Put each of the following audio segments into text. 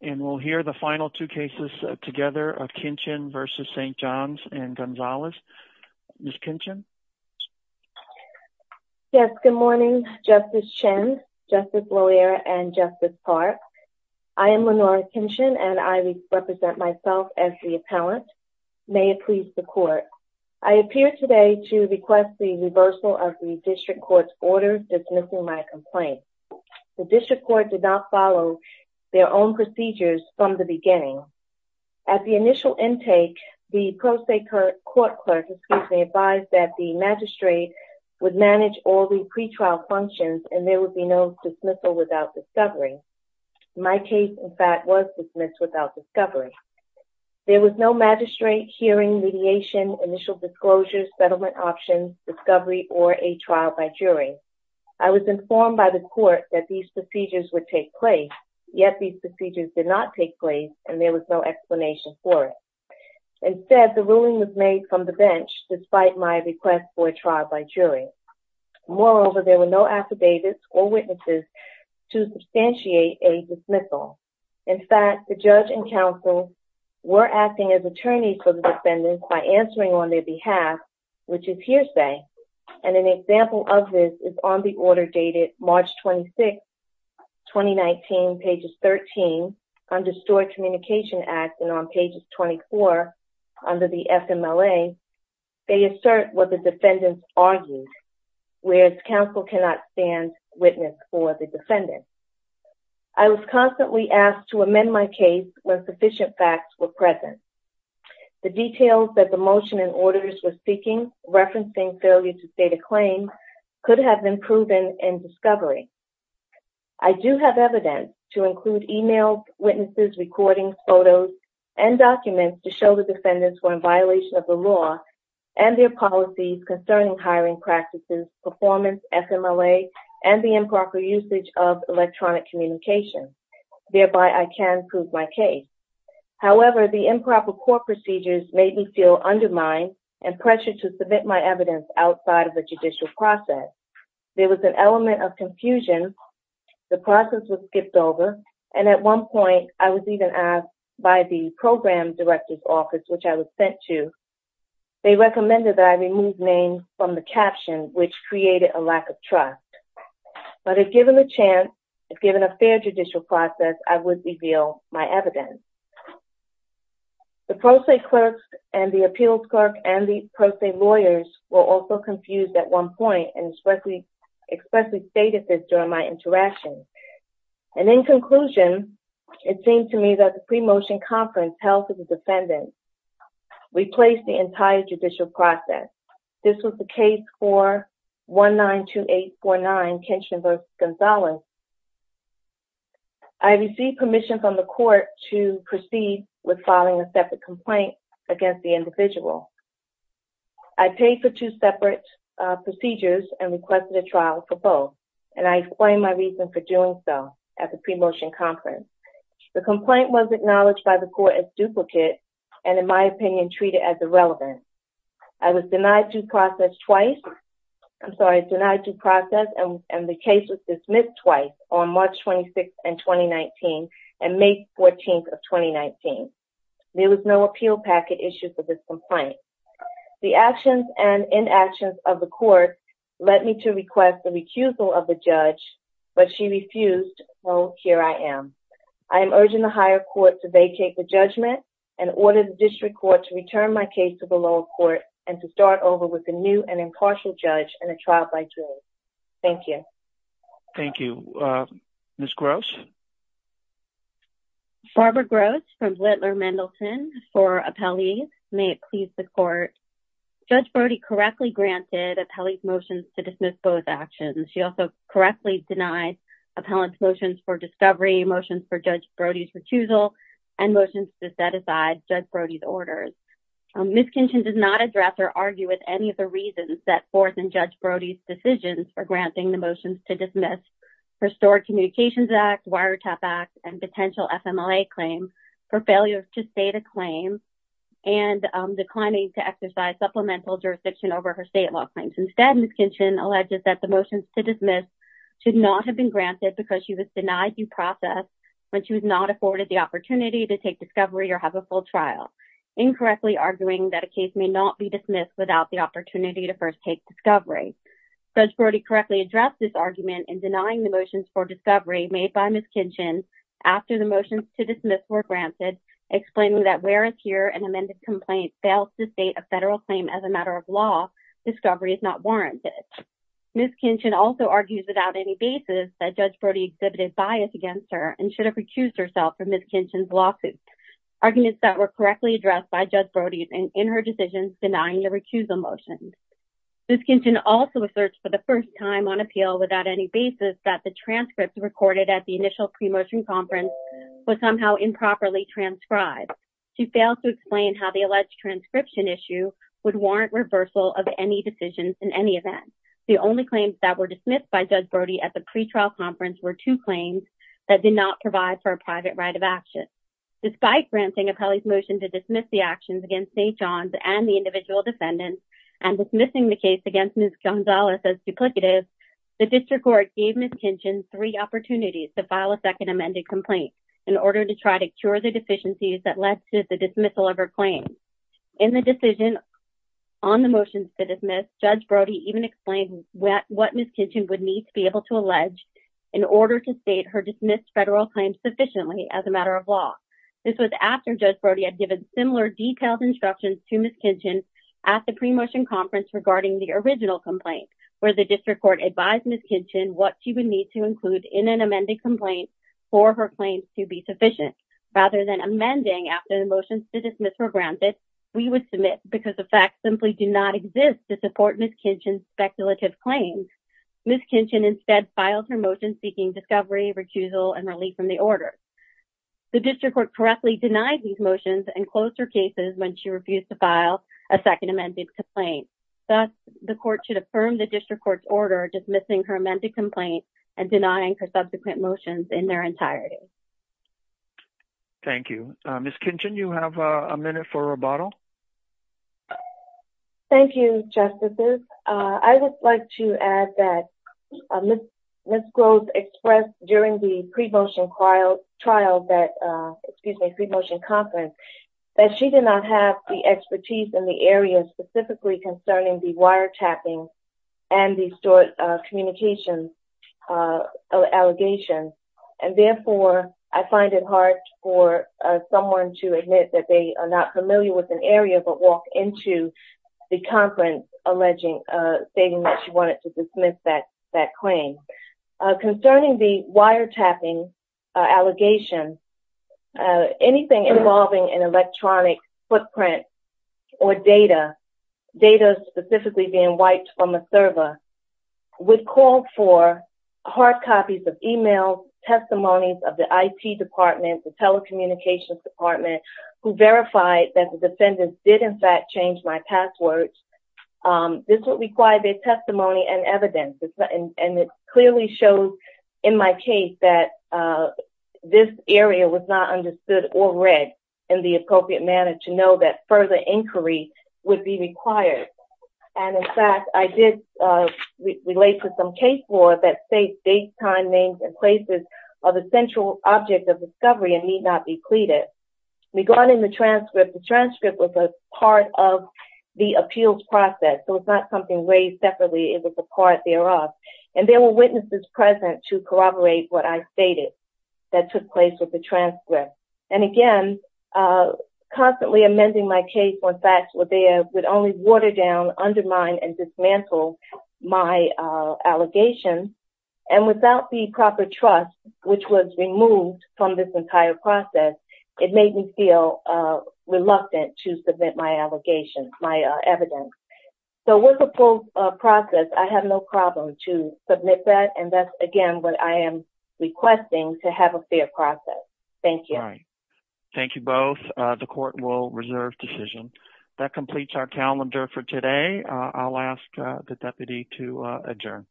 and we'll hear the final two cases together of Kinchen v. St. John's and Gonzales. Ms. Kinchen? Yes, good morning Justice Chen, Justice Loera, and Justice Park. I am Lenora Kinchen and I represent myself as the appellant. May it please the court, I appear today to request the reversal of the district court's order dismissing my complaint. The district court did not follow their own procedures from the beginning. At the initial intake, the pro se court clerk advised that the magistrate would manage all the pretrial functions and there would be no dismissal without discovery. My case, in fact, was dismissed without discovery. There was no magistrate, hearing, mediation, initial disclosures, settlement options, discovery, or a trial by jury. I was informed by the court that these procedures would take place, yet these procedures did not take place and there was no explanation for it. Instead, the ruling was made from the bench despite my request for a trial by jury. Moreover, there were no affidavits or witnesses to substantiate a dismissal. In fact, the judge and counsel were acting as attorneys for the defendants by answering on their behalf, which is hearsay, and an example of this is on the order dated March 26th, 2019, pages 13, under Stored Communication Act, and on pages 24 under the FMLA, they assert what the defendants argued, whereas counsel cannot stand witness for the defendants. I was constantly asked to amend my case when sufficient facts were present. The details that the motion and auditors were seeking, referencing failure to state a claim, could have been proven in discovery. I do have evidence to include emails, witnesses, recordings, photos, and documents to show the defendants were in violation of the law and their policies concerning hiring practices, performance, FMLA, and the improper usage of electronic communication, thereby I can prove my case. However, the improper court procedures made me feel undermined and pressured to submit my evidence outside of the judicial process. There was an element of confusion. The process was skipped over, and at one point, I was even asked by the program director's office, which I was sent to, they recommended that I remove names from the caption, which created a lack of trust, but if given the chance, if given a fair judicial process, I would reveal my evidence. The pro se clerks and the appeals clerk and the pro se lawyers were also confused at one point and expressly stated this during my interaction, and in conclusion, it seemed to me that the pre-motion conference held for the defendants replaced the entire judicial process. This was the case for 192849, Kenshin v. Gonzales. I received permission from the court to proceed with filing a separate complaint against the individual. I paid for two separate procedures and requested a trial for both, and I explained my reason for doing so at the pre-motion conference. The complaint was acknowledged by the court as duplicate and, in my opinion, treated as irrelevant. I was denied due process twice, I'm sorry, denied due process, and the case was dismissed twice on March 26th and 2019 and May 14th of 2019. There was no appeal packet issued for this complaint. The actions and inactions of the court led me to request the recusal of the judge, but she refused, so here I am. I am urging the higher court to vacate the judgment and order the district court to return my case to the lower court and to start over with a new and impartial judge and a trial by jury. Thank you. Thank you. Ms. Gross? Barbara Gross from Blitler-Mendelsohn for Appellees, may it please the court. Judge Brody correctly granted Appellees' motions to dismiss both actions. She also correctly denied Appellants' motions for discovery, motions for Judge Brody's recusal, and motions to set aside Judge Brody's orders. Ms. Kinchin does not address or argue with any of the reasons set forth in Judge Brody's decisions for granting the motions to dismiss her Stored Communications Act, Wiretap Act, and potential FMLA claim, her failure to state a claim, and declining to exercise supplemental jurisdiction over her state law claims. Instead, Ms. Kinchin alleges that the motions to dismiss should not have been granted because she was denied due process when she was not afforded the opportunity to take discovery or have a full trial, incorrectly arguing that a case may not be dismissed without the opportunity to first take discovery. Judge Brody correctly addressed this argument in denying the motions for discovery made by Ms. Kinchin after the motions to dismiss were granted, explaining that where a peer and amended complaint fails to state a federal claim as a matter of law, discovery is not warranted. Ms. Kinchin also argues without any basis that Judge Brody exhibited bias against her and should have recused herself from Ms. Kinchin's lawsuit, arguments that were correctly addressed by Judge Brody in her decisions denying the recusal motions. Ms. Kinchin also asserts for the first time on appeal without any basis that the transcript recorded at the initial pre-motion conference was somehow improperly transcribed. She failed to explain how the alleged transcription issue would warrant reversal of any decisions in any event. The only claims that were dismissed by Judge Brody at the pre-trial conference were two claims that did not provide for a private right of action. Despite granting appellee's motion to dismiss the actions against St. John's and the individual defendants and dismissing the case against Ms. Gonzalez as duplicative, the district court gave Ms. Kinchin three opportunities to file a second amended complaint in order to try to cure the deficiencies that led to the dismissal of her claim. In the decision on the motions to dismiss, Judge Brody even explained what Ms. Kinchin would need to be able to allege in order to state her dismissed federal claims sufficiently as a matter of law. This was after Judge Brody had given similar detailed instructions to Ms. Kinchin at the pre-motion conference regarding the original complaint where the district court advised Ms. Kinchin what she would need to include in an amended complaint for her claims to be sufficient. Rather than amending after the motions to dismiss were granted, we would submit because the facts simply do not exist to support Ms. Kinchin's speculative claims. Ms. Kinchin instead filed her motion seeking discovery, recusal, and relief from the order. The district court correctly denied these motions and closed her cases when she refused to file a second amended complaint. Thus, the court should affirm the district court's order dismissing her amended complaint and denying her subsequent motions in their entirety. Thank you. Ms. Kinchin, you have a minute for rebuttal. Thank you, Justices. I would like to add that Ms. Groves expressed during the pre-motion trial, excuse me, pre-motion conference, that she did not have the expertise in the area specifically concerning the wire tapping allegations, and therefore, I find it hard for someone to admit that they are not familiar with an area but walk into the conference alleging, stating that she wanted to dismiss that claim. Concerning the wire tapping allegations, anything involving an electronic footprint or data, data specifically being wiped from a server, would call for hard copies of emails, testimonies of the IT department, the telecommunications department, who verified that the defendants did in fact change my passwords. This would require their testimony and evidence, and it clearly shows in my case that this area was not understood or read in the appropriate manner to know that further inquiry would be required. In fact, I did relate to some case law that states dates, time, names, and places are the central object of discovery and need not be pleaded. Regarding the transcript, the transcript was a part of the appeals process, so it's not something raised separately. It was a part thereof, and there were witnesses present to corroborate what I stated that took place with the transcript, and again, constantly amending my case when facts were not clear would only water down, undermine, and dismantle my allegations, and without the proper trust, which was removed from this entire process, it made me feel reluctant to submit my allegations, my evidence. So with the full process, I have no problem to submit that, and that's again what I am requesting to have a fair process. Thank you. All right. Thank you both. The court will reserve decision. That completes our calendar for today. I'll ask the deputy to adjourn.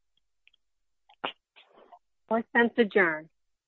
Court is adjourned.